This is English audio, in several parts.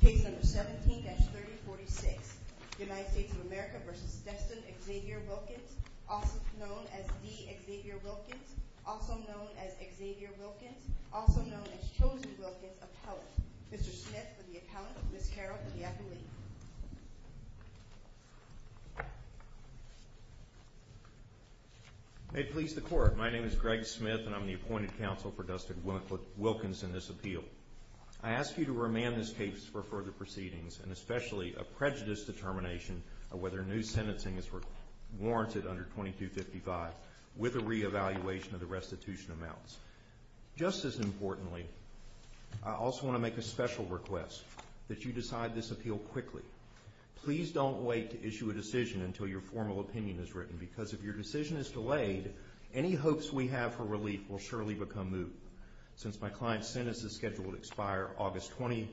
D. Xavier Wilkins, also known as Xavier Wilkins, also known as Chosen Wilkins, appellate. Mr. Smith for the accountant, Ms. Carroll for the appellate. May it please the court, my name is Greg Smith and I'm the appointed counsel for Dustin Wilkins in this appeal. I ask you to remand this case for further proceedings and especially a prejudice determination of whether new sentencing is warranted under 2255 with a reevaluation of the restitution amounts. Just as importantly, I also want to make a special request that you decide this appeal quickly. Please don't wait to issue a decision until your formal opinion is written because if your decision is delayed, any hopes we have for relief will surely become moot. Since my client's sentence is scheduled to expire August 20th,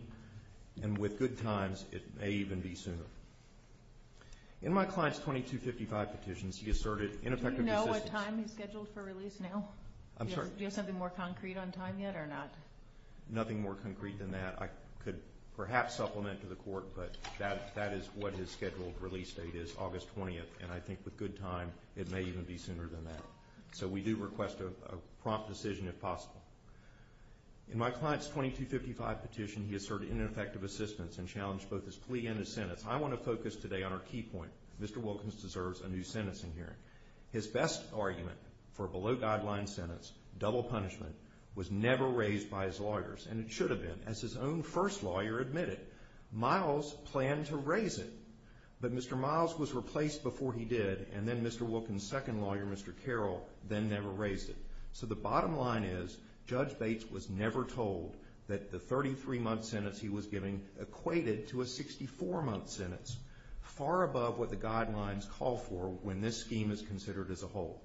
and with good times, it may even be sooner. In my client's 2255 petitions, he asserted ineffective... Do you know what time he's scheduled for release now? I'm sorry? Do you have something more concrete on time yet or not? Nothing more concrete than that. I could perhaps supplement to the court, but that is what his scheduled release date is, and I think with good time, it may even be sooner than that. So we do request a prompt decision if possible. In my client's 2255 petition, he asserted ineffective assistance and challenged both his plea and his sentence. I want to focus today on our key point. Mr. Wilkins deserves a new sentencing hearing. His best argument for a below-guideline sentence, double punishment, was never raised by his lawyers, and it should have been, as his own first lawyer admitted. Miles planned to raise it, but Mr. Miles was replaced before he did, and then Mr. Wilkins' second lawyer, Mr. Carroll, then never raised it. So the bottom line is Judge Bates was never told that the 33-month sentence he was giving equated to a 64-month sentence, far above what the guidelines call for when this scheme is considered as a whole.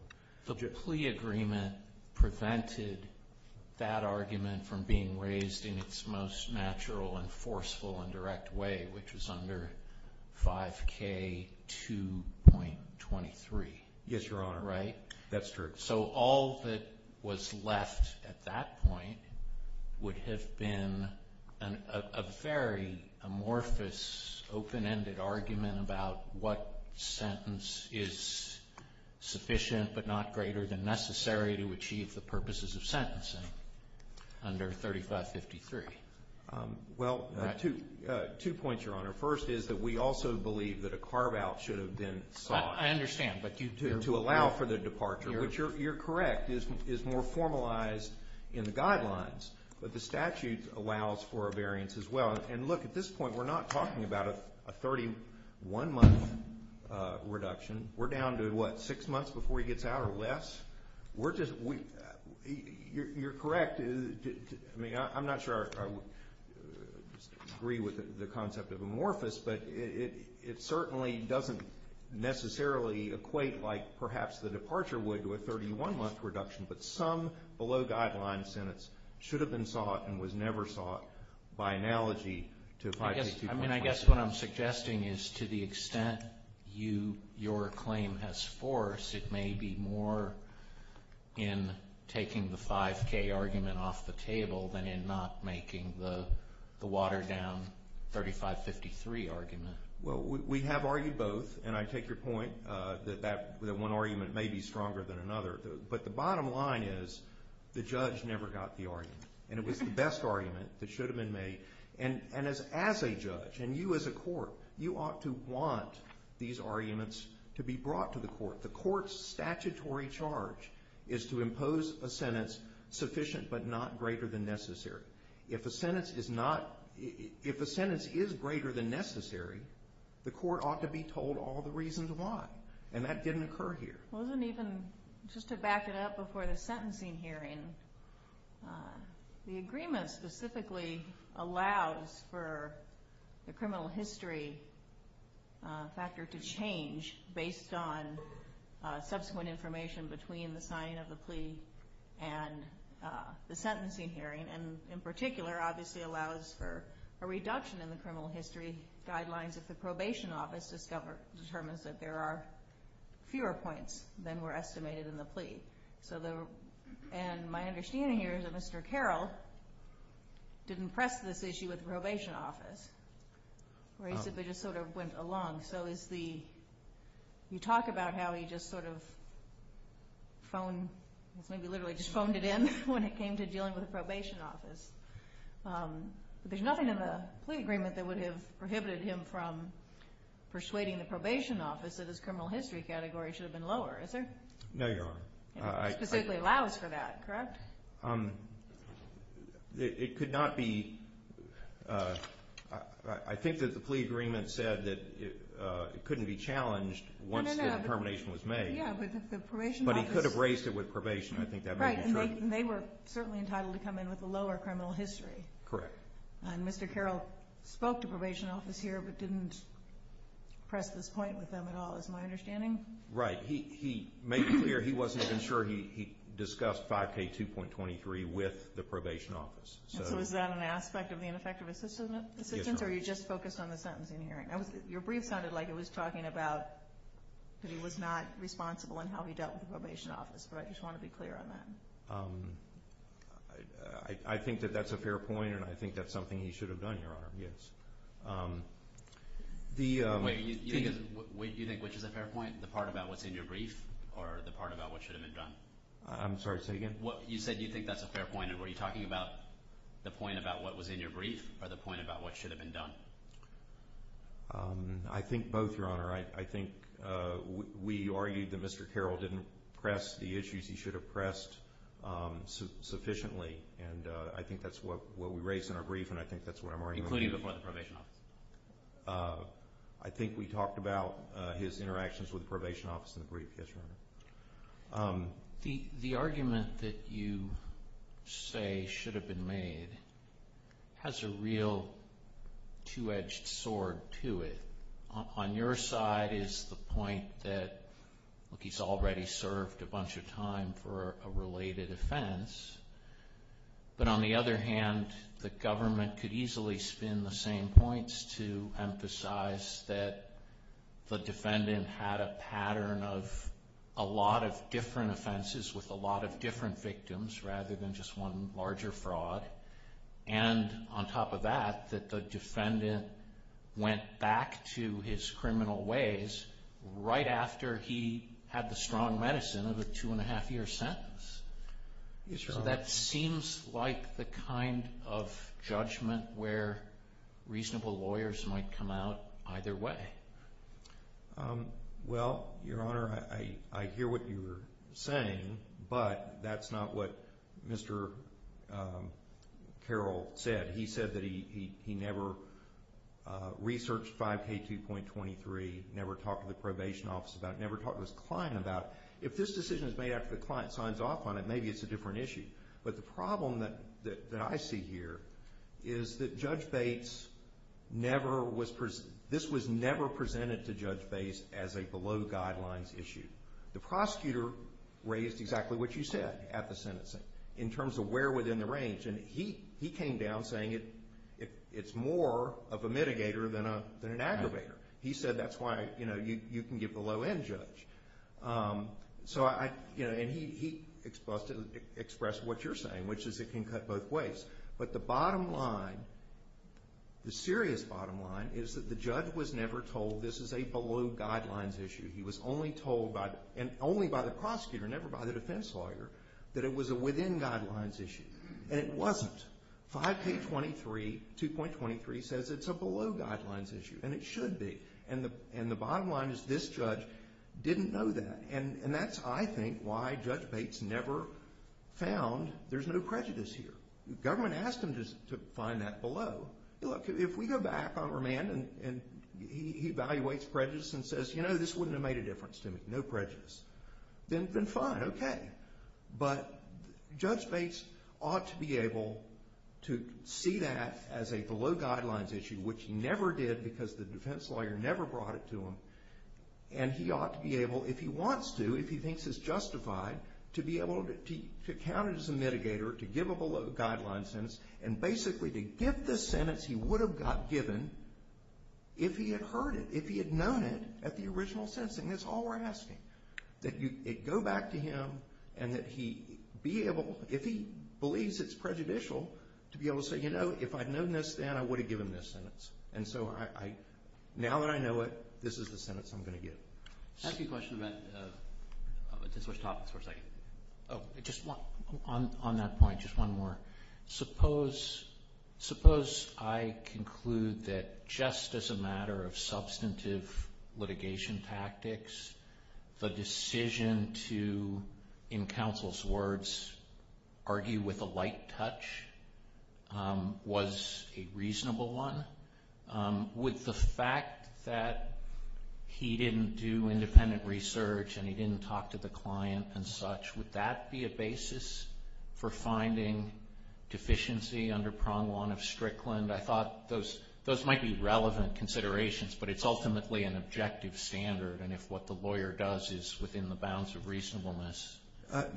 The plea agreement prevented that argument from being raised in its most natural and forceful and direct way, which was under 5K2.23. Yes, Your Honor. Right? That's true. So all that was left at that point would have been a very amorphous, open-ended argument about what sentence is sufficient but not greater than necessary to achieve the purposes of sentencing under 3553. Well, two points, Your Honor. First is that we also believe that a carve-out should have been sought to allow for the departure, which you're correct, is more formalized in the guidelines, but the statute allows for a variance as well. And look, at this point we're not talking about a 31-month reduction. We're down to, what, six months before he gets out or less? We're just – you're correct. I mean, I'm not sure I agree with the concept of amorphous, but it certainly doesn't necessarily equate like perhaps the departure would to a 31-month reduction, but some below-guideline sentence should have been sought and was never sought by analogy to 5K2.23. I mean, I guess what I'm suggesting is to the extent your claim has force, it may be more in taking the 5K argument off the table than in not making the water down 3553 argument. Well, we have argued both, and I take your point that one argument may be stronger than another, but the bottom line is the judge never got the argument, and it was the best argument that should have been made. And as a judge, and you as a court, you ought to want these arguments to be brought to the court. The court's statutory charge is to impose a sentence sufficient but not greater than necessary. If a sentence is greater than necessary, the court ought to be told all the reasons why, and that didn't occur here. Well, isn't even just to back it up before the sentencing hearing, the agreement specifically allows for the criminal history factor to change based on subsequent information between the signing of the plea and the sentencing hearing, and in particular obviously allows for a reduction in the criminal history guidelines if the probation office determines that there are fewer points than were estimated in the plea. And my understanding here is that Mr. Carroll didn't press this issue with the probation office, or he simply just sort of went along. So you talk about how he just sort of phoned, maybe literally just phoned it in when it came to dealing with the probation office. There's nothing in the plea agreement that would have prohibited him from persuading the probation office that his criminal history category should have been lower, is there? No, Your Honor. It specifically allows for that, correct? It could not be. I think that the plea agreement said that it couldn't be challenged once the determination was made. Yeah, but the probation office. But he could have raised it with probation. Right, and they were certainly entitled to come in with a lower criminal history. Correct. And Mr. Carroll spoke to probation office here but didn't press this point with them at all is my understanding. Right. He made clear he wasn't even sure he discussed 5K2.23 with the probation office. So is that an aspect of the ineffective assistance, or you just focused on the sentencing hearing? Your brief sounded like it was talking about that he was not responsible in how he dealt with the probation office, but I just want to be clear on that. I think that that's a fair point, and I think that's something he should have done, Your Honor, yes. Wait, you think which is a fair point, the part about what's in your brief or the part about what should have been done? I'm sorry, say again? You said you think that's a fair point, and were you talking about the point about what was in your brief or the point about what should have been done? I think both, Your Honor. I think we argued that Mr. Carroll didn't press the issues he should have pressed sufficiently, and I think that's what we raised in our brief, and I think that's what I'm arguing. Including the point about the probation office? I think we talked about his interactions with the probation office in the brief, yes, Your Honor. The argument that you say should have been made has a real two-edged sword to it. On your side is the point that he's already served a bunch of time for a related offense, but on the other hand, the government could easily spin the same points to emphasize that the defendant had a pattern of a lot of different offenses with a lot of different victims rather than just one larger fraud, and on top of that, that the defendant went back to his criminal ways right after he had the strong medicine of a two-and-a-half-year sentence. Yes, Your Honor. So that seems like the kind of judgment where reasonable lawyers might come out either way. Well, Your Honor, I hear what you're saying, but that's not what Mr. Carroll said. He said that he never researched 5K2.23, never talked to the probation office about it, and that if this decision is made after the client signs off on it, maybe it's a different issue. But the problem that I see here is that Judge Bates never was – this was never presented to Judge Bates as a below-guidelines issue. The prosecutor raised exactly what you said at the sentencing in terms of where within the range, and he came down saying it's more of a mitigator than an aggravator. He said that's why you can give the low-end judge. And he expressed what you're saying, which is it can cut both ways. But the bottom line, the serious bottom line, is that the judge was never told this is a below-guidelines issue. He was only told by the prosecutor, never by the defense lawyer, that it was a within-guidelines issue, and it wasn't. 5K2.23 says it's a below-guidelines issue, and it should be. And the bottom line is this judge didn't know that, and that's, I think, why Judge Bates never found there's no prejudice here. The government asked him to find that below. Look, if we go back on remand and he evaluates prejudice and says, you know, this wouldn't have made a difference to me, no prejudice, then fine, okay. But Judge Bates ought to be able to see that as a below-guidelines issue, which he never did because the defense lawyer never brought it to him. And he ought to be able, if he wants to, if he thinks it's justified, to be able to count it as a mitigator, to give a below-guidelines sentence, and basically to give the sentence he would have got given if he had heard it, if he had known it at the original sentencing. That's all we're asking, that you go back to him and that he be able, if he believes it's prejudicial, to be able to say, you know, if I'd known this then, I would have given this sentence. And so now that I know it, this is the sentence I'm going to give. I have a question about this much topics for a second. Just on that point, just one more. Suppose I conclude that just as a matter of substantive litigation tactics, the decision to, in counsel's words, argue with a light touch was a reasonable one. Would the fact that he didn't do independent research and he didn't talk to the client and such, would that be a basis for finding deficiency under prong one of Strickland? I thought those might be relevant considerations, but it's ultimately an objective standard, and if what the lawyer does is within the bounds of reasonableness,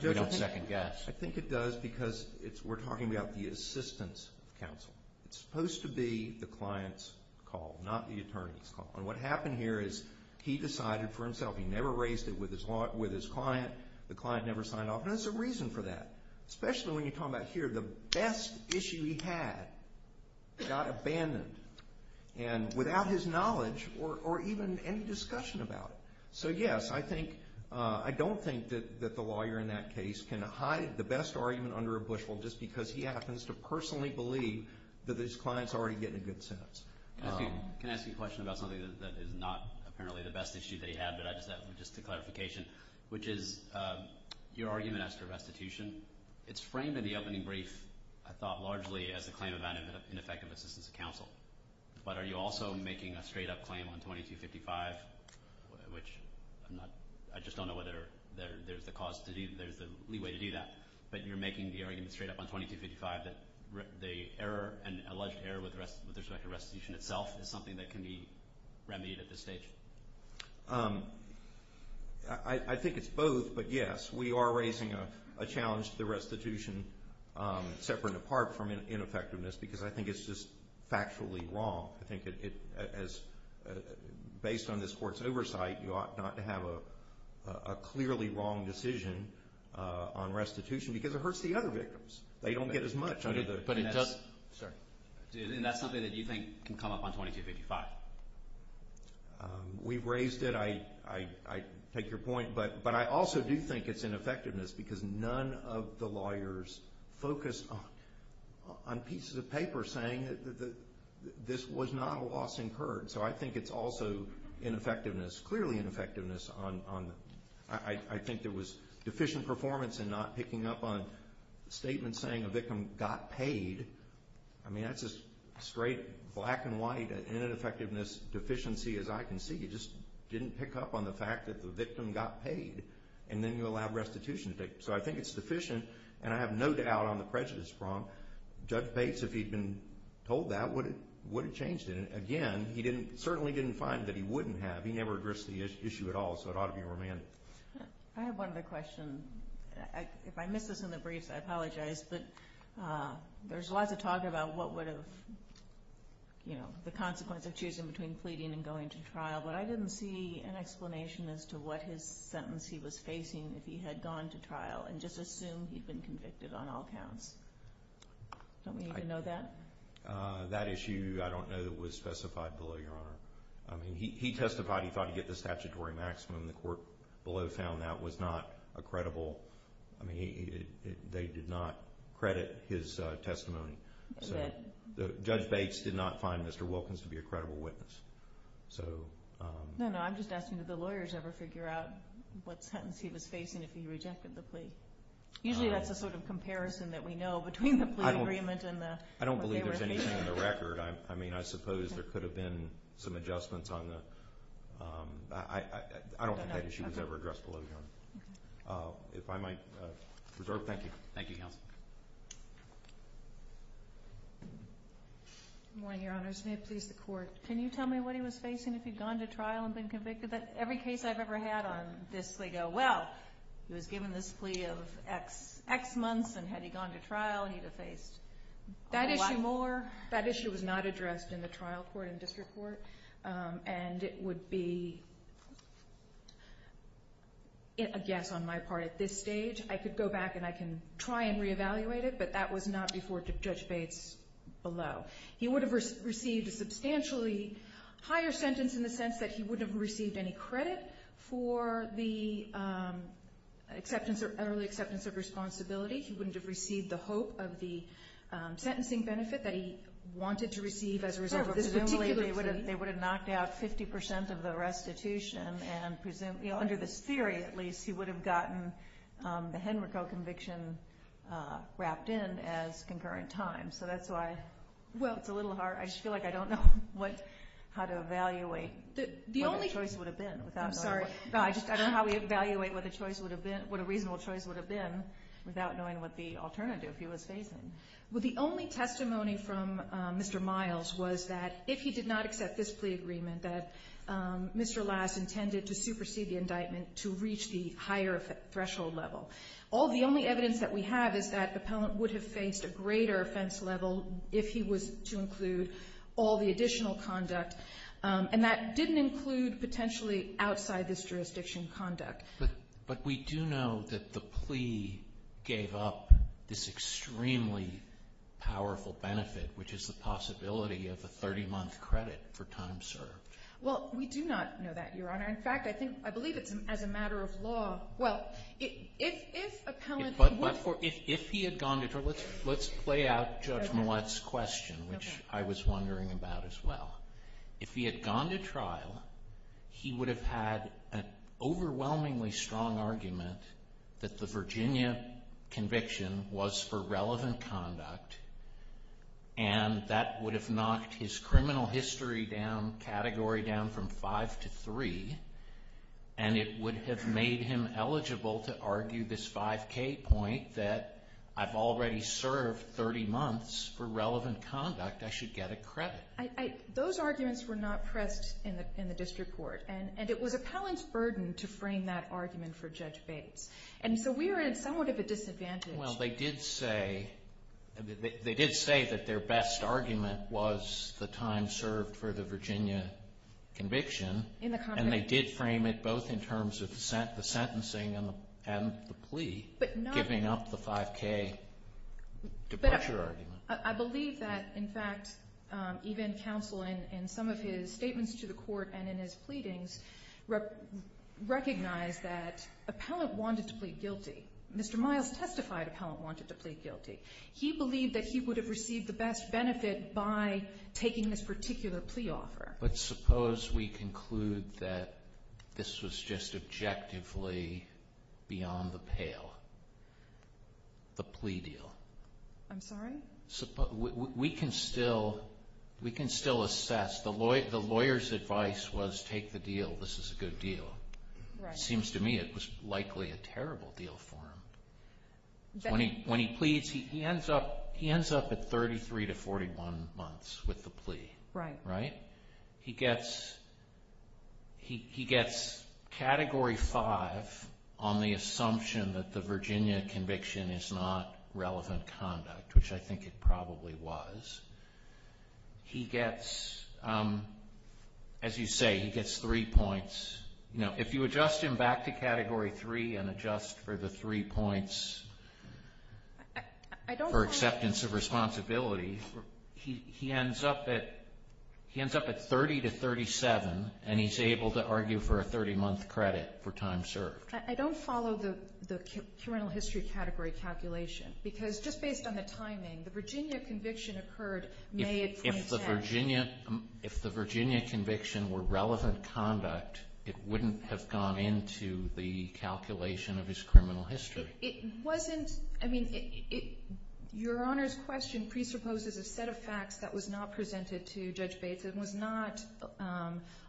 we don't second guess. I think it does because we're talking about the assistance counsel. It's supposed to be the client's call, not the attorney's call. And what happened here is he decided for himself. He never raised it with his client. The client never signed off, and there's a reason for that, especially when you're talking about here, the best issue he had got abandoned without his knowledge or even any discussion about it. So, yes, I don't think that the lawyer in that case can hide the best argument under a bushel just because he happens to personally believe that his client's already getting a good sentence. Can I ask you a question about something that is not apparently the best issue they had, but I just have just a clarification, which is your argument as to restitution. It's framed in the opening brief, I thought, largely as a claim of ineffective assistance of counsel. But are you also making a straight-up claim on 2255, which I just don't know whether there's the cause to do that, but you're making the argument straight up on 2255 that the error and alleged error with respect to restitution itself is something that can be remedied at this stage? I think it's both, but, yes, we are raising a challenge to the restitution, separate and apart from ineffectiveness, because I think it's just factually wrong. I think, based on this Court's oversight, you ought not to have a clearly wrong decision on restitution because it hurts the other victims. They don't get as much under the— And that's something that you think can come up on 2255. We raised it. I take your point, but I also do think it's ineffectiveness because none of the lawyers focused on pieces of paper saying that this was not a loss incurred. So I think it's also ineffectiveness, clearly ineffectiveness. I think there was deficient performance in not picking up on statements saying a victim got paid. I mean, that's a straight black and white ineffectiveness deficiency, as I can see. You just didn't pick up on the fact that the victim got paid, and then you allowed restitution. So I think it's deficient, and I have no doubt on the prejudice prong. Judge Bates, if he'd been told that, would have changed it. Again, he certainly didn't find that he wouldn't have. He never addressed the issue at all, so it ought to be romantic. I have one other question. If I miss this in the briefs, I apologize, but there's lots of talk about what would have, you know, the consequence of choosing between pleading and going to trial, but I didn't see an explanation as to what his sentence he was facing if he had gone to trial and just assumed he'd been convicted on all counts. Don't we need to know that? That issue, I don't know that was specified below, Your Honor. I mean, he testified he thought he'd get the statutory maximum. The court below found that was not a credible, I mean, they did not credit his testimony. Judge Bates did not find Mr. Wilkins to be a credible witness. No, no, I'm just asking did the lawyers ever figure out what sentence he was facing if he rejected the plea? Usually that's a sort of comparison that we know between the plea agreement and what they were facing. I don't believe there's anything in the record. I mean, I suppose there could have been some adjustments on the, I don't think that issue was ever addressed below, Your Honor. If I might reserve, thank you. Thank you, counsel. Good morning, Your Honors. May it please the Court. Can you tell me what he was facing if he'd gone to trial and been convicted? Every case I've ever had on this, they go, well, he was given this plea of X months, and had he gone to trial, he'd have faced a lot more. That issue was not addressed in the trial court and district court, and it would be a guess on my part at this stage. I could go back and I can try and reevaluate it, but that was not before Judge Bates below. He would have received a substantially higher sentence in the sense that he wouldn't have received any credit for the early acceptance of responsibility. He wouldn't have received the hope of the sentencing benefit that he wanted to receive as a result of this particular plea. They would have knocked out 50% of the restitution, and under this theory, at least, he would have gotten the Henrico conviction wrapped in as concurrent time. So that's why it's a little hard. I just feel like I don't know how to evaluate what the choice would have been. I'm sorry. No, I just don't know how we evaluate what a reasonable choice would have been without knowing what the alternative he was facing. Well, the only testimony from Mr. Miles was that if he did not accept this plea agreement, that Mr. Lass intended to supersede the indictment to reach the higher threshold level. The only evidence that we have is that the appellant would have faced a greater offense level if he was to include all the additional conduct, and that didn't include potentially outside this jurisdiction conduct. But we do know that the plea gave up this extremely powerful benefit, which is the possibility of a 30-month credit for time served. Well, we do not know that, Your Honor. In fact, I believe it's as a matter of law. But if he had gone to trial, let's play out Judge Millett's question, which I was wondering about as well. If he had gone to trial, he would have had an overwhelmingly strong argument that the Virginia conviction was for relevant conduct, and that would have knocked his criminal history category down from 5 to 3, and it would have made him eligible to argue this 5K point that I've already served 30 months for relevant conduct, I should get a credit. Those arguments were not pressed in the district court, and it was appellant's burden to frame that argument for Judge Bates. And so we are in somewhat of a disadvantage. Well, they did say that their best argument was the time served for the Virginia conviction. And they did frame it both in terms of the sentencing and the plea, giving up the 5K departure argument. I believe that, in fact, even counsel in some of his statements to the court and in his pleadings recognized that appellant wanted to plead guilty. Mr. Miles testified appellant wanted to plead guilty. He believed that he would have received the best benefit by taking this particular plea offer. But suppose we conclude that this was just objectively beyond the pale, the plea deal. I'm sorry? We can still assess. The lawyer's advice was take the deal. This is a good deal. It seems to me it was likely a terrible deal for him. When he pleads, he ends up at 33 to 41 months with the plea. Right. Right? He gets Category 5 on the assumption that the Virginia conviction is not relevant conduct, which I think it probably was. He gets, as you say, he gets three points. If you adjust him back to Category 3 and adjust for the three points for acceptance of responsibility, he ends up at 30 to 37, and he's able to argue for a 30-month credit for time served. I don't follow the criminal history category calculation because just based on the timing, the Virginia conviction occurred May of 2010. If the Virginia conviction were relevant conduct, it wouldn't have gone into the calculation of his criminal history. It wasn't. I mean, Your Honor's question presupposes a set of facts that was not presented to Judge Bates and was not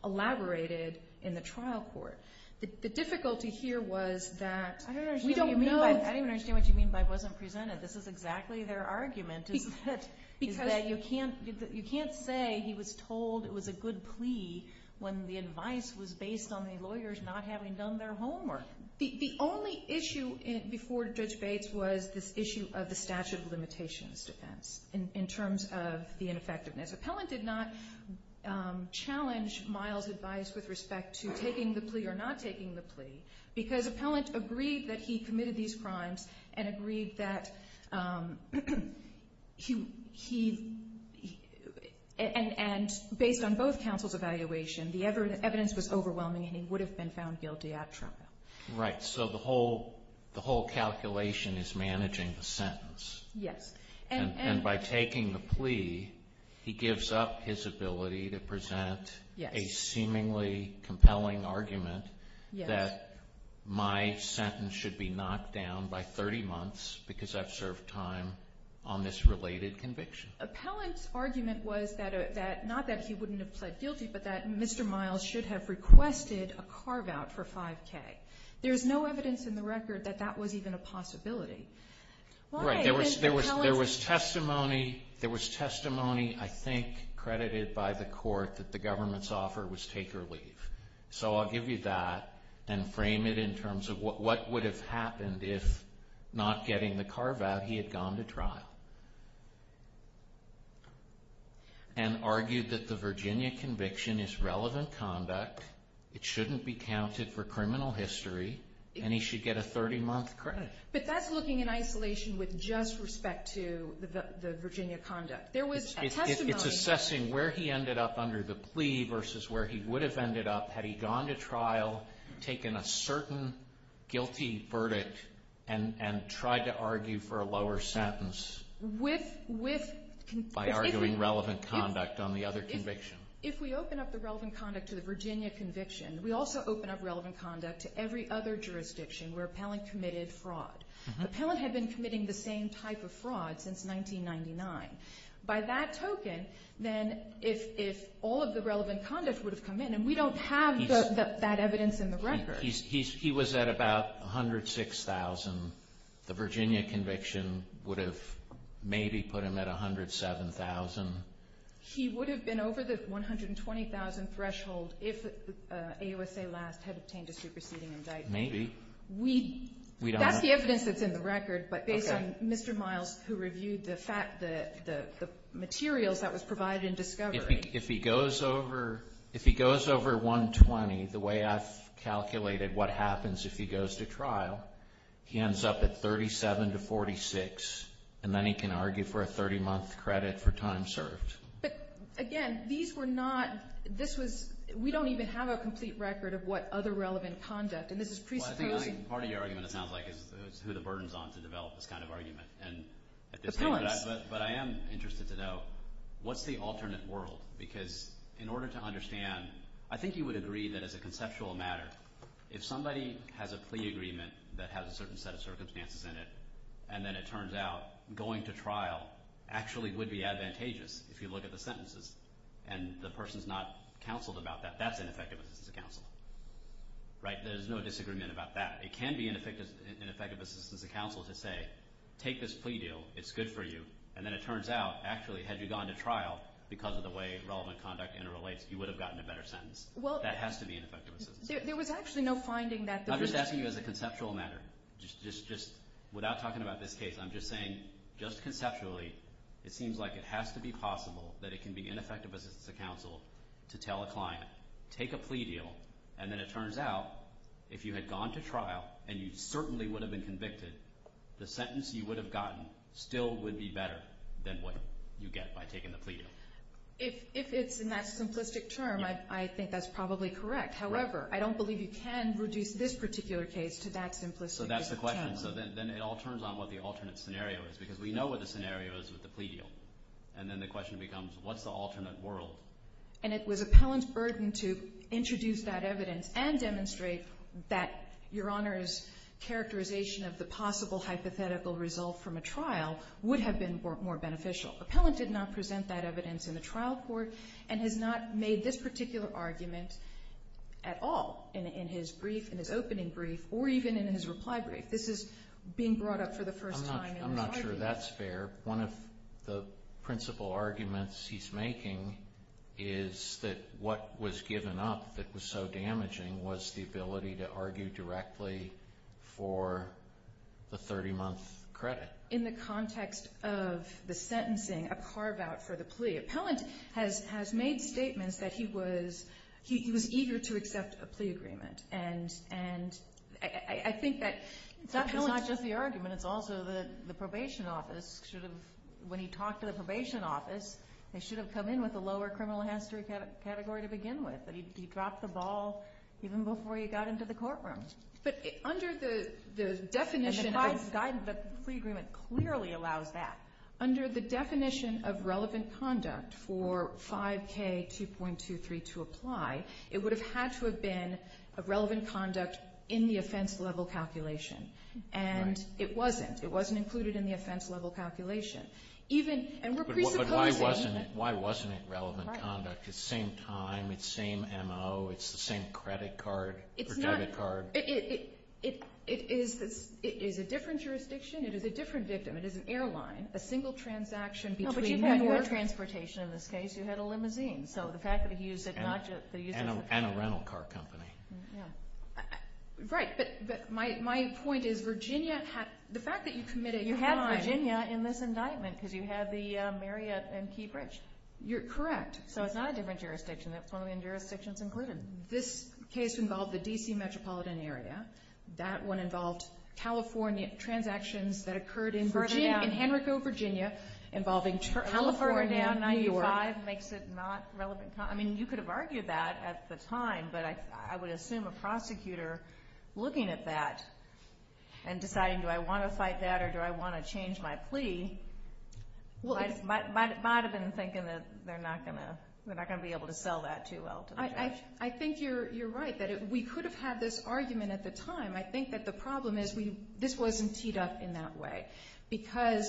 elaborated in the trial court. The difficulty here was that we don't know. I don't understand what you mean by it wasn't presented. This is exactly their argument is that you can't say he was told it was a good plea when the advice was based on the lawyers not having done their homework. The only issue before Judge Bates was this issue of the statute of limitations defense in terms of the ineffectiveness. Appellant did not challenge Miles' advice with respect to taking the plea or not taking the plea because Appellant agreed that he committed these crimes and agreed that he, and based on both counsel's evaluation, the evidence was overwhelming and he would have been found guilty at trial. Right. So the whole calculation is managing the sentence. Yes. And by taking the plea, he gives up his ability to present a seemingly compelling argument that my sentence should be knocked down by 30 months because I've served time on this related conviction. Appellant's argument was that not that he wouldn't have pled guilty, but that Mr. Miles should have requested a carve-out for 5K. There's no evidence in the record that that was even a possibility. Right. There was testimony, I think, credited by the court that the government's offer was take or leave. So I'll give you that and frame it in terms of what would have happened if not getting the carve-out he had gone to trial and argued that the Virginia conviction is relevant conduct, it shouldn't be counted for criminal history, and he should get a 30-month credit. But that's looking in isolation with just respect to the Virginia conduct. There was testimony. Appellant's assessing where he ended up under the plea versus where he would have ended up had he gone to trial, taken a certain guilty verdict, and tried to argue for a lower sentence by arguing relevant conduct on the other conviction. If we open up the relevant conduct to the Virginia conviction, we also open up relevant conduct to every other jurisdiction where appellant committed fraud. Appellant had been committing the same type of fraud since 1999. By that token, then if all of the relevant conduct would have come in, and we don't have that evidence in the record. He was at about 106,000. The Virginia conviction would have maybe put him at 107,000. He would have been over the 120,000 threshold if AUSA last had obtained a superseding indictment. Maybe. That's the evidence that's in the record, but based on Mr. Miles, who reviewed the materials that was provided in discovery. If he goes over 120, the way I've calculated what happens if he goes to trial, he ends up at 37 to 46, and then he can argue for a 30-month credit for time served. But again, these were not – this was – we don't even have a complete record of what other relevant conduct, and this is presupposing. Well, I think part of your argument, it sounds like, is who the burden is on to develop this kind of argument. Appellants. But I am interested to know, what's the alternate world? Because in order to understand, I think you would agree that as a conceptual matter, if somebody has a plea agreement that has a certain set of circumstances in it, and then it turns out going to trial actually would be advantageous if you look at the sentences and the person is not counseled about that, that's ineffective assistance of counsel. There's no disagreement about that. It can be ineffective assistance of counsel to say, take this plea deal. It's good for you. And then it turns out, actually, had you gone to trial because of the way relevant conduct interrelates, you would have gotten a better sentence. That has to be ineffective assistance of counsel. There was actually no finding that there was – I'm just asking you as a conceptual matter. Just without talking about this case, I'm just saying just conceptually, it seems like it has to be possible that it can be ineffective assistance of counsel to tell a client, take a plea deal, and then it turns out if you had gone to trial and you certainly would have been convicted, the sentence you would have gotten still would be better than what you get by taking the plea deal. If it's in that simplistic term, I think that's probably correct. However, I don't believe you can reduce this particular case to that simplicity. So that's the question. So then it all turns on what the alternate scenario is, because we know what the scenario is with the plea deal. And then the question becomes, what's the alternate world? And it was appellant's burden to introduce that evidence and demonstrate that Your Honor's characterization of the possible hypothetical result from a trial would have been more beneficial. Appellant did not present that evidence in the trial court and has not made this particular argument at all in his brief, in his opening brief, or even in his reply brief. This is being brought up for the first time in the argument. I'm not sure that's fair. One of the principal arguments he's making is that what was given up that was so damaging was the ability to argue directly for the 30-month credit. In the context of the sentencing, a carve-out for the plea, appellant has made statements that he was eager to accept a plea agreement. And I think that that's not just the argument. It's also the probation office should have, when he talked to the probation office, they should have come in with a lower criminal history category to begin with. But he dropped the ball even before he got into the courtroom. But under the definition of the plea agreement clearly allows that. Under the definition of relevant conduct for 5K 2.23 to apply, it would have had to have been a relevant conduct in the offense-level calculation. And it wasn't. It wasn't included in the offense-level calculation. But why wasn't it relevant conduct? It's the same time. It's the same MO. It's the same credit card or debit card. It is a different jurisdiction. It is a different victim. It is an airline. A single transaction between New York. But you had your transportation in this case. You had a limousine. So the fact that he used it not just the use of the car. And a rental car company. Right. But my point is Virginia had the fact that you committed a crime. You had Virginia in this indictment because you had the Marriott and Key Bridge. Correct. So it's not a different jurisdiction. That's one of the jurisdictions included. This case involved the D.C. metropolitan area. That one involved California transactions that occurred in Virginia. In Henrico, Virginia. Involving California, New York. California 95 makes it not relevant. I mean you could have argued that at the time. But I would assume a prosecutor looking at that and deciding do I want to fight that or do I want to change my plea. Might have been thinking that they're not going to be able to sell that too well to the judge. I think you're right that we could have had this argument at the time. I think that the problem is this wasn't teed up in that way. Because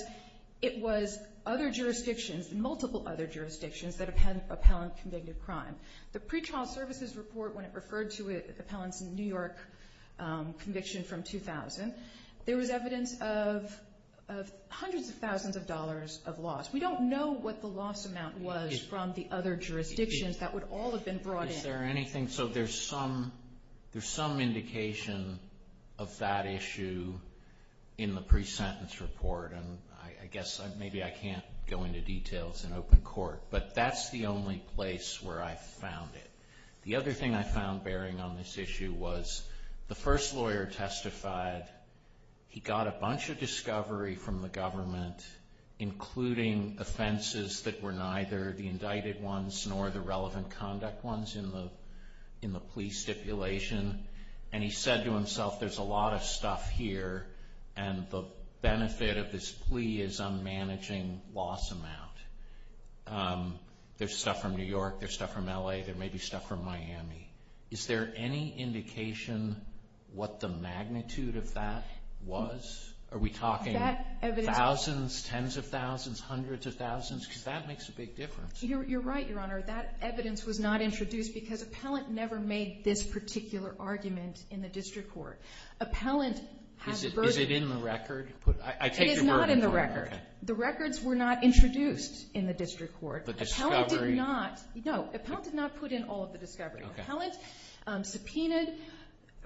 it was other jurisdictions, multiple other jurisdictions, that appellant convicted crime. The pretrial services report when it referred to appellants in New York conviction from 2000, there was evidence of hundreds of thousands of dollars of loss. We don't know what the loss amount was from the other jurisdictions that would all have been brought in. Is there anything? So there's some indication of that issue in the pre-sentence report. And I guess maybe I can't go into details in open court. But that's the only place where I found it. The other thing I found bearing on this issue was the first lawyer testified. He got a bunch of discovery from the government including offenses that were neither the indicted ones nor the relevant conduct ones in the plea stipulation. And he said to himself there's a lot of stuff here and the benefit of this plea is unmanaging loss amount. There's stuff from New York, there's stuff from L.A., there may be stuff from Miami. Is there any indication what the magnitude of that was? Are we talking thousands, tens of thousands, hundreds of thousands? Because that makes a big difference. You're right, Your Honor. That evidence was not introduced because appellant never made this particular argument in the district court. Is it in the record? It is not in the record. The records were not introduced in the district court. The discovery? No, appellant did not put in all of the discovery. Appellant subpoenaed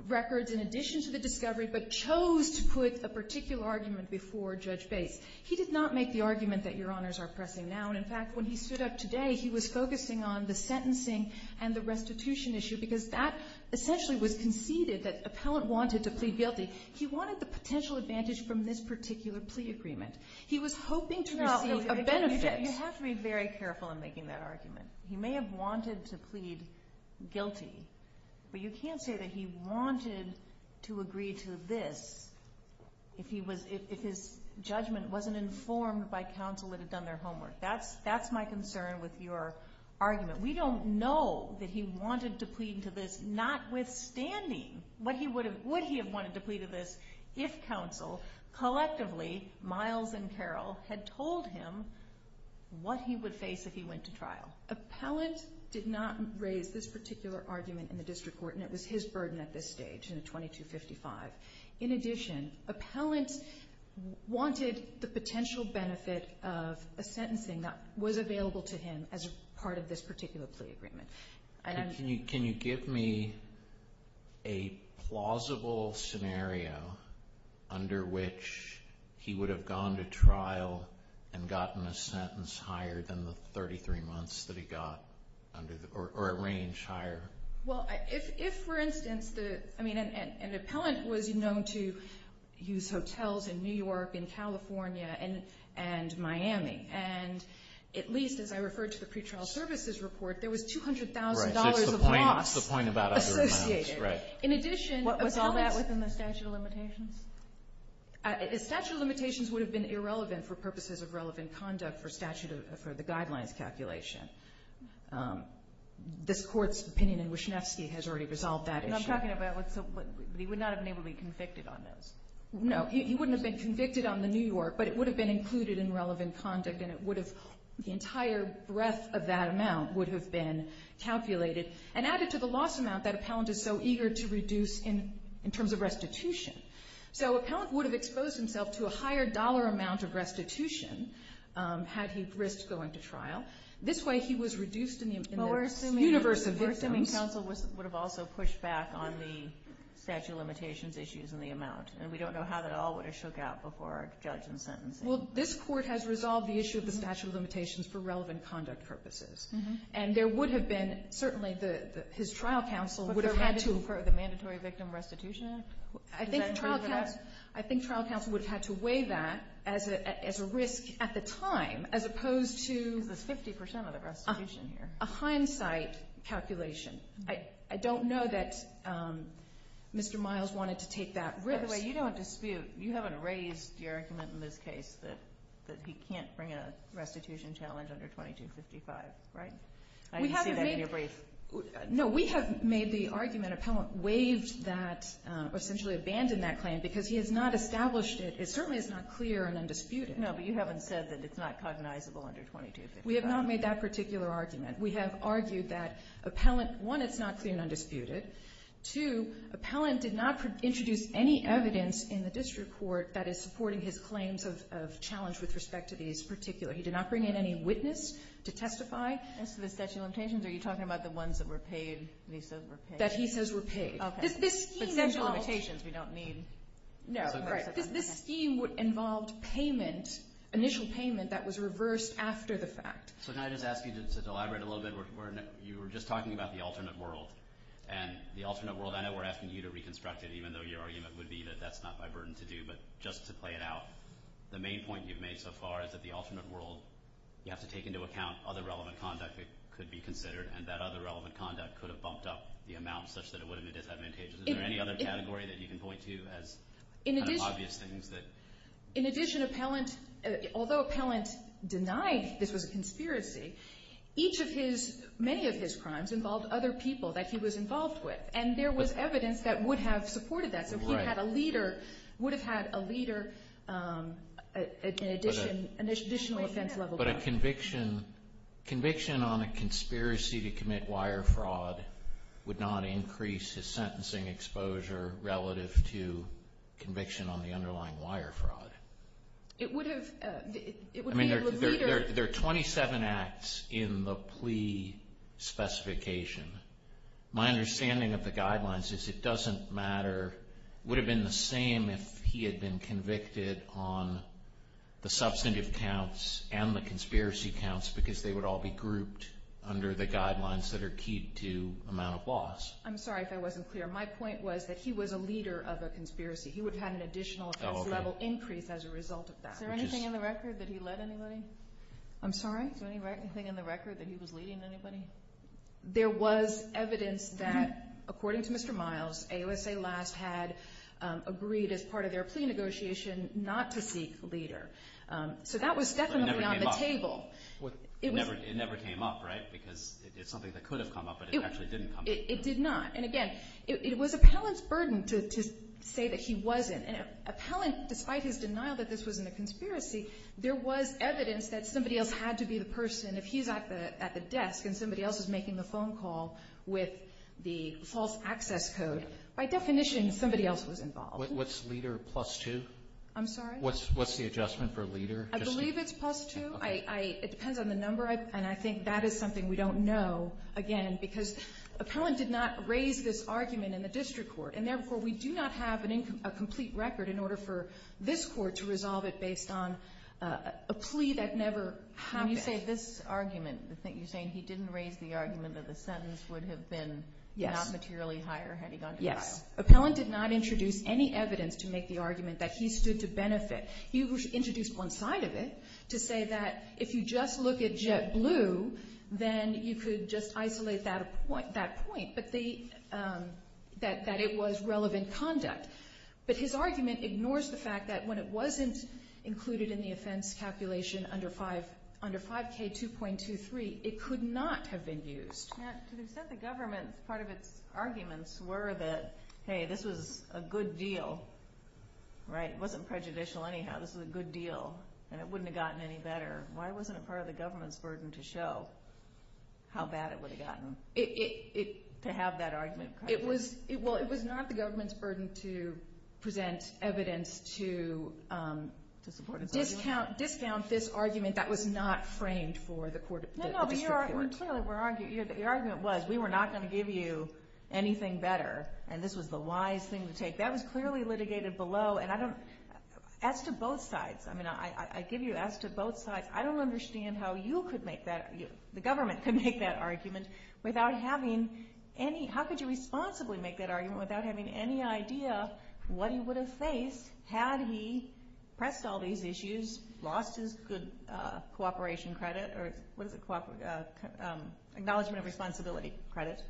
records in addition to the discovery but chose to put a particular argument before Judge Bates. He did not make the argument that Your Honors are pressing now. And, in fact, when he stood up today, he was focusing on the sentencing and the restitution issue because that essentially was conceded that appellant wanted to plead guilty. He wanted the potential advantage from this particular plea agreement. He was hoping to receive a benefit. You have to be very careful in making that argument. He may have wanted to plead guilty, but you can't say that he wanted to agree to this if his judgment wasn't informed by counsel that had done their homework. That's my concern with your argument. We don't know that he wanted to plead to this, notwithstanding what he would have wanted to plead to this if counsel, collectively, Miles and Carroll, had told him what he would face if he went to trial. Appellant did not raise this particular argument in the district court, and it was his burden at this stage in the 2255. In addition, appellant wanted the potential benefit of a sentencing that was available to him as part of this particular plea agreement. Can you give me a plausible scenario under which he would have gone to trial and gotten a sentence higher than the 33 months that he got, or a range higher? If, for instance, an appellant was known to use hotels in New York, in California, and Miami, and at least, as I referred to the pretrial services report, there was $200,000 of loss associated. In addition, was all that within the statute of limitations? The statute of limitations would have been irrelevant for purposes of relevant conduct for the guidelines calculation. This Court's opinion in Wyshynewski has already resolved that issue. I'm talking about what's a – he would not have been able to be convicted on those. No, he wouldn't have been convicted on the New York, but it would have been included in relevant conduct, and it would have – the entire breadth of that amount would have been calculated and added to the loss amount that appellant is so eager to reduce in terms of restitution. So appellant would have exposed himself to a higher dollar amount of restitution had he risked going to trial. This way, he was reduced in the universe of victims. I mean, counsel would have also pushed back on the statute of limitations issues and the amount, and we don't know how that all would have shook out before our judge in sentencing. Well, this Court has resolved the issue of the statute of limitations for relevant conduct purposes, and there would have been – certainly, his trial counsel would have had to – But the mandatory victim restitution act? I think trial counsel would have had to weigh that as a risk at the time as opposed to – Because it's 50 percent of the restitution here. A hindsight calculation. I don't know that Mr. Miles wanted to take that risk. By the way, you don't dispute – you haven't raised your argument in this case that he can't bring a restitution challenge under 2255, right? I didn't see that in your brief. No, we have made the argument appellant waived that – essentially abandoned that claim because he has not established it. It certainly is not clear and undisputed. No, but you haven't said that it's not cognizable under 2255. We have not made that particular argument. We have argued that appellant – one, it's not clear and undisputed. Two, appellant did not introduce any evidence in the district court that is supporting his claims of challenge with respect to these particular – he did not bring in any witness to testify. As to the statute of limitations, are you talking about the ones that were paid, that he says were paid? That he says were paid. Okay. But statute of limitations, we don't need – No, right. This scheme involved payment, initial payment that was reversed after the fact. So can I just ask you to elaborate a little bit? You were just talking about the alternate world. And the alternate world, I know we're asking you to reconstruct it even though your argument would be that that's not my burden to do. But just to play it out, the main point you've made so far is that the alternate world, you have to take into account other relevant conduct that could be considered. And that other relevant conduct could have bumped up the amount such that it wouldn't be disadvantageous. Is there any other category that you can point to as obvious things that – In addition, appellant – although appellant denied this was a conspiracy, each of his – many of his crimes involved other people that he was involved with. And there was evidence that would have supported that. So he had a leader – would have had a leader in addition – additional offense level. But a conviction – conviction on a conspiracy to commit wire fraud would not increase his sentencing exposure relative to conviction on the underlying wire fraud. It would have – it would be a leader – I mean, there are 27 acts in the plea specification. My understanding of the guidelines is it doesn't matter – would have been the same if he had been convicted on the substantive counts that are key to amount of loss. I'm sorry if I wasn't clear. My point was that he was a leader of a conspiracy. He would have had an additional offense level increase as a result of that. Is there anything in the record that he led anybody? I'm sorry? Is there anything in the record that he was leading anybody? There was evidence that, according to Mr. Miles, AOSA last had agreed as part of their plea negotiation not to seek a leader. So that was definitely on the table. It never came up, right? Because it's something that could have come up, but it actually didn't come up. It did not. And, again, it was appellant's burden to say that he wasn't. And appellant, despite his denial that this wasn't a conspiracy, there was evidence that somebody else had to be the person. If he's at the desk and somebody else is making the phone call with the false access code, by definition, somebody else was involved. What's leader plus 2? I'm sorry? What's the adjustment for leader? I believe it's plus 2. It depends on the number, and I think that is something we don't know, again, because appellant did not raise this argument in the district court, and therefore we do not have a complete record in order for this court to resolve it based on a plea that never happened. When you say this argument, you're saying he didn't raise the argument that the sentence would have been not materially higher had he gone to trial? Yes. Appellant did not introduce any evidence to make the argument that he stood to benefit. He introduced one side of it to say that if you just look at JetBlue, then you could just isolate that point, that it was relevant conduct. But his argument ignores the fact that when it wasn't included in the offense calculation under 5K2.23, it could not have been used. To the extent the government, part of its arguments were that, hey, this was a good deal, right? Anyhow, this was a good deal, and it wouldn't have gotten any better. Why wasn't it part of the government's burden to show how bad it would have gotten to have that argument? Well, it was not the government's burden to present evidence to support its argument. Discount this argument that was not framed for the district court. No, no, but you clearly were arguing. Your argument was we were not going to give you anything better, and this was the wise thing to take. That was clearly litigated below, and I don't, as to both sides, I give you as to both sides, I don't understand how you could make that, the government could make that argument without having any, how could you responsibly make that argument without having any idea what he would have faced had he pressed all these issues, lost his good cooperation credit, or what is it, acknowledgment of responsibility credit.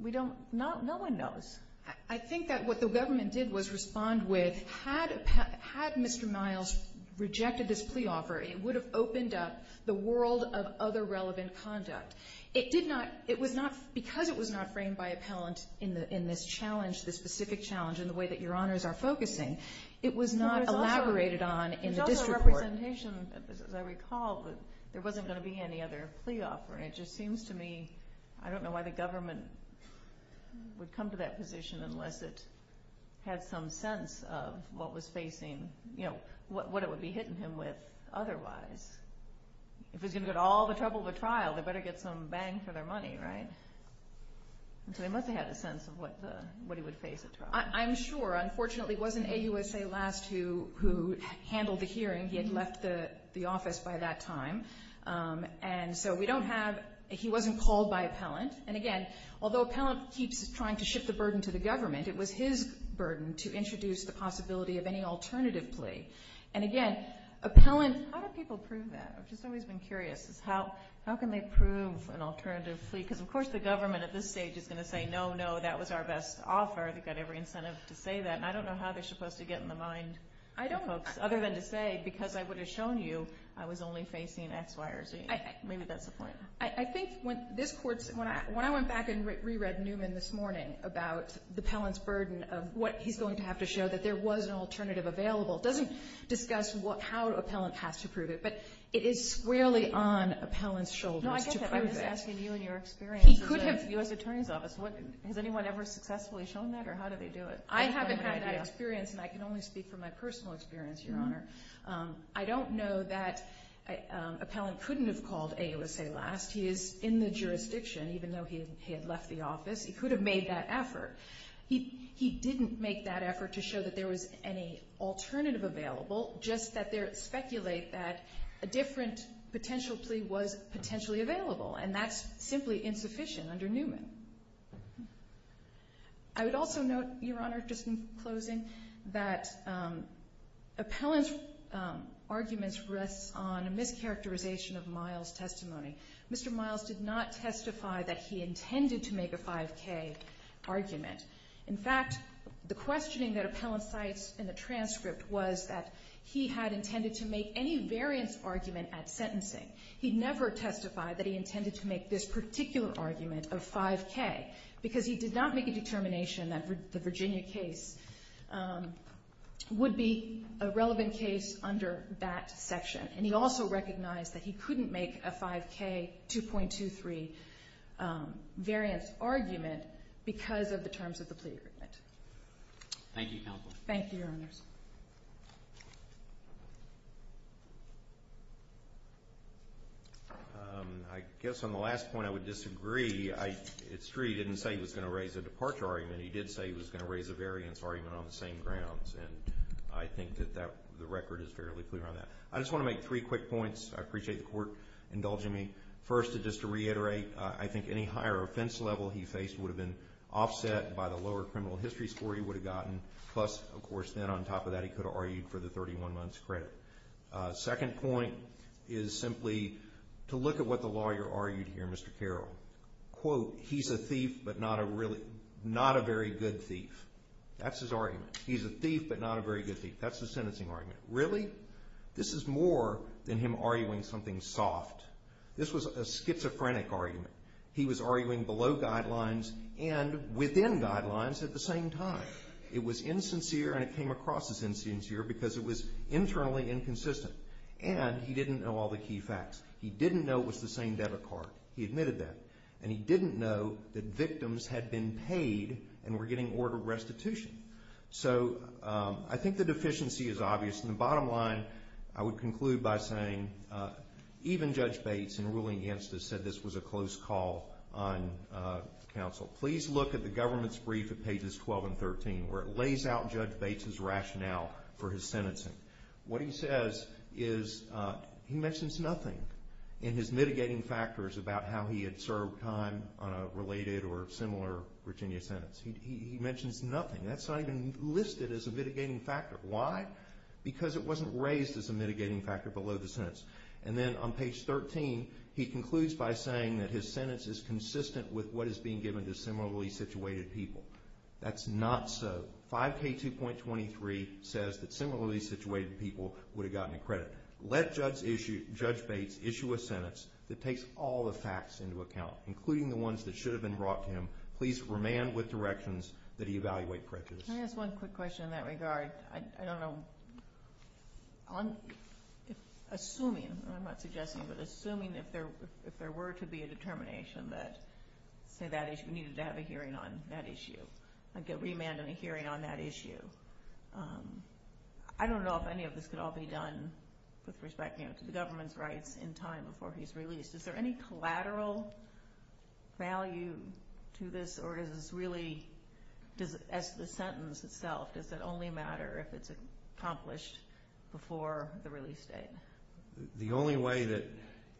We don't, no one knows. I think that what the government did was respond with, had Mr. Miles rejected this plea offer, it would have opened up the world of other relevant conduct. It did not, it was not, because it was not framed by appellant in this challenge, this specific challenge in the way that your honors are focusing, it was not elaborated on in the district court. It's also a representation, as I recall, that there wasn't going to be any other plea offer, and it just seems to me, I don't know why the government would come to that position unless it had some sense of what was facing, what it would be hitting him with otherwise. If it was going to get all the trouble of a trial, they better get some bang for their money, right? So they must have had a sense of what he would face at trial. I'm sure, unfortunately, it wasn't AUSA last who handled the hearing. He had left the office by that time. And so we don't have, he wasn't called by appellant. And, again, although appellant keeps trying to shift the burden to the government, it was his burden to introduce the possibility of any alternative plea. And, again, appellant, how do people prove that? I've just always been curious is how can they prove an alternative plea? Because, of course, the government at this stage is going to say, no, no, that was our best offer. They've got every incentive to say that. And I don't know how they're supposed to get in the mind of folks, other than to say because I would have shown you I was only facing X, Y, or Z. Maybe that's the point. I think when this Court, when I went back and re-read Newman this morning about the appellant's burden of what he's going to have to show, that there was an alternative available, doesn't discuss how appellant has to prove it. But it is squarely on appellant's shoulders to prove it. No, I get that. I'm just asking you and your experience. He could have. U.S. Attorney's Office, has anyone ever successfully shown that? Or how do they do it? I haven't had that experience, and I can only speak from my personal experience, Your Honor. I don't know that appellant couldn't have called AUSA last. He is in the jurisdiction, even though he had left the office. He could have made that effort. He didn't make that effort to show that there was any alternative available, just that they speculate that a different potential plea was potentially available. And that's simply insufficient under Newman. I would also note, Your Honor, just in closing, that appellant's arguments rest on a mischaracterization of Miles' testimony. Mr. Miles did not testify that he intended to make a 5K argument. In fact, the questioning that appellant cites in the transcript was that he had intended to make any variance argument at sentencing. He never testified that he intended to make this particular argument of 5K because he did not make a determination that the Virginia case would be a relevant case under that section. And he also recognized that he couldn't make a 5K 2.23 variance argument because of the terms of the plea agreement. Thank you, Your Honors. I guess on the last point I would disagree. It's true he didn't say he was going to raise a departure argument. He did say he was going to raise a variance argument on the same grounds. And I think that the record is fairly clear on that. I just want to make three quick points. I appreciate the Court indulging me. First, just to reiterate, I think any higher offense level he faced would have been offset by the lower criminal history score he would have gotten. Plus, of course, then on top of that he could have argued for the 31 months credit. Second point is simply to look at what the lawyer argued here, Mr. Carroll. Quote, he's a thief but not a very good thief. That's his argument. He's a thief but not a very good thief. That's his sentencing argument. Really? This is more than him arguing something soft. This was a schizophrenic argument. He was arguing below guidelines and within guidelines at the same time. It was insincere and it came across as insincere because it was internally inconsistent. And he didn't know all the key facts. He didn't know it was the same debit card. He admitted that. And he didn't know that victims had been paid and were getting ordered restitution. So I think the deficiency is obvious. And the bottom line I would conclude by saying even Judge Bates in ruling against us said this was a close call on counsel. Please look at the government's brief at pages 12 and 13 where it lays out Judge Bates' rationale for his sentencing. What he says is he mentions nothing in his mitigating factors about how he had served time on a related or similar Virginia sentence. He mentions nothing. That's not even listed as a mitigating factor. Why? Because it wasn't raised as a mitigating factor below the sentence. And then on page 13, he concludes by saying that his sentence is consistent with what is being given to similarly situated people. That's not so. 5K2.23 says that similarly situated people would have gotten the credit. Let Judge Bates issue a sentence that takes all the facts into account, including the ones that should have been brought to him. Please remand with directions that he evaluate prejudice. Can I ask one quick question in that regard? I don't know. Assuming, I'm not suggesting, but assuming if there were to be a determination that, say, that issue, we needed to have a hearing on that issue, like a remand and a hearing on that issue, I don't know if any of this could all be done with respect to the government's rights in time before he's released. Is there any collateral value to this or is this really, as the sentence itself, does it only matter if it's accomplished before the release date? The only way that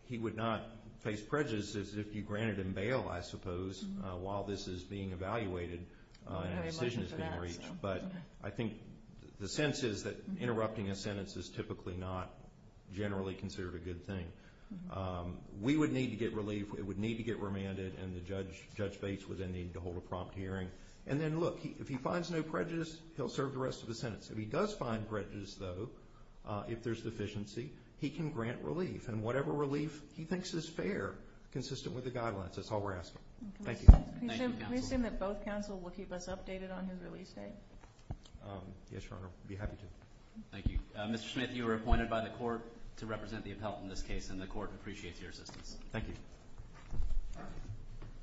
he would not face prejudice is if you granted him bail, I suppose, while this is being evaluated and a decision is being reached. But I think the sense is that interrupting a sentence is typically not generally considered a good thing. We would need to get relief. It would need to get remanded, and Judge Bates would then need to hold a prompt hearing. And then, look, if he finds no prejudice, he'll serve the rest of the sentence. If he does find prejudice, though, if there's deficiency, he can grant relief, and whatever relief he thinks is fair, consistent with the guidelines. That's all we're asking. Thank you. Thank you, counsel. Can we assume that both counsel will keep us updated on his release date? Yes, Your Honor. I'd be happy to. Thank you. Mr. Smith, you were appointed by the court to represent the appellant in this case, and the court appreciates your assistance. Thank you.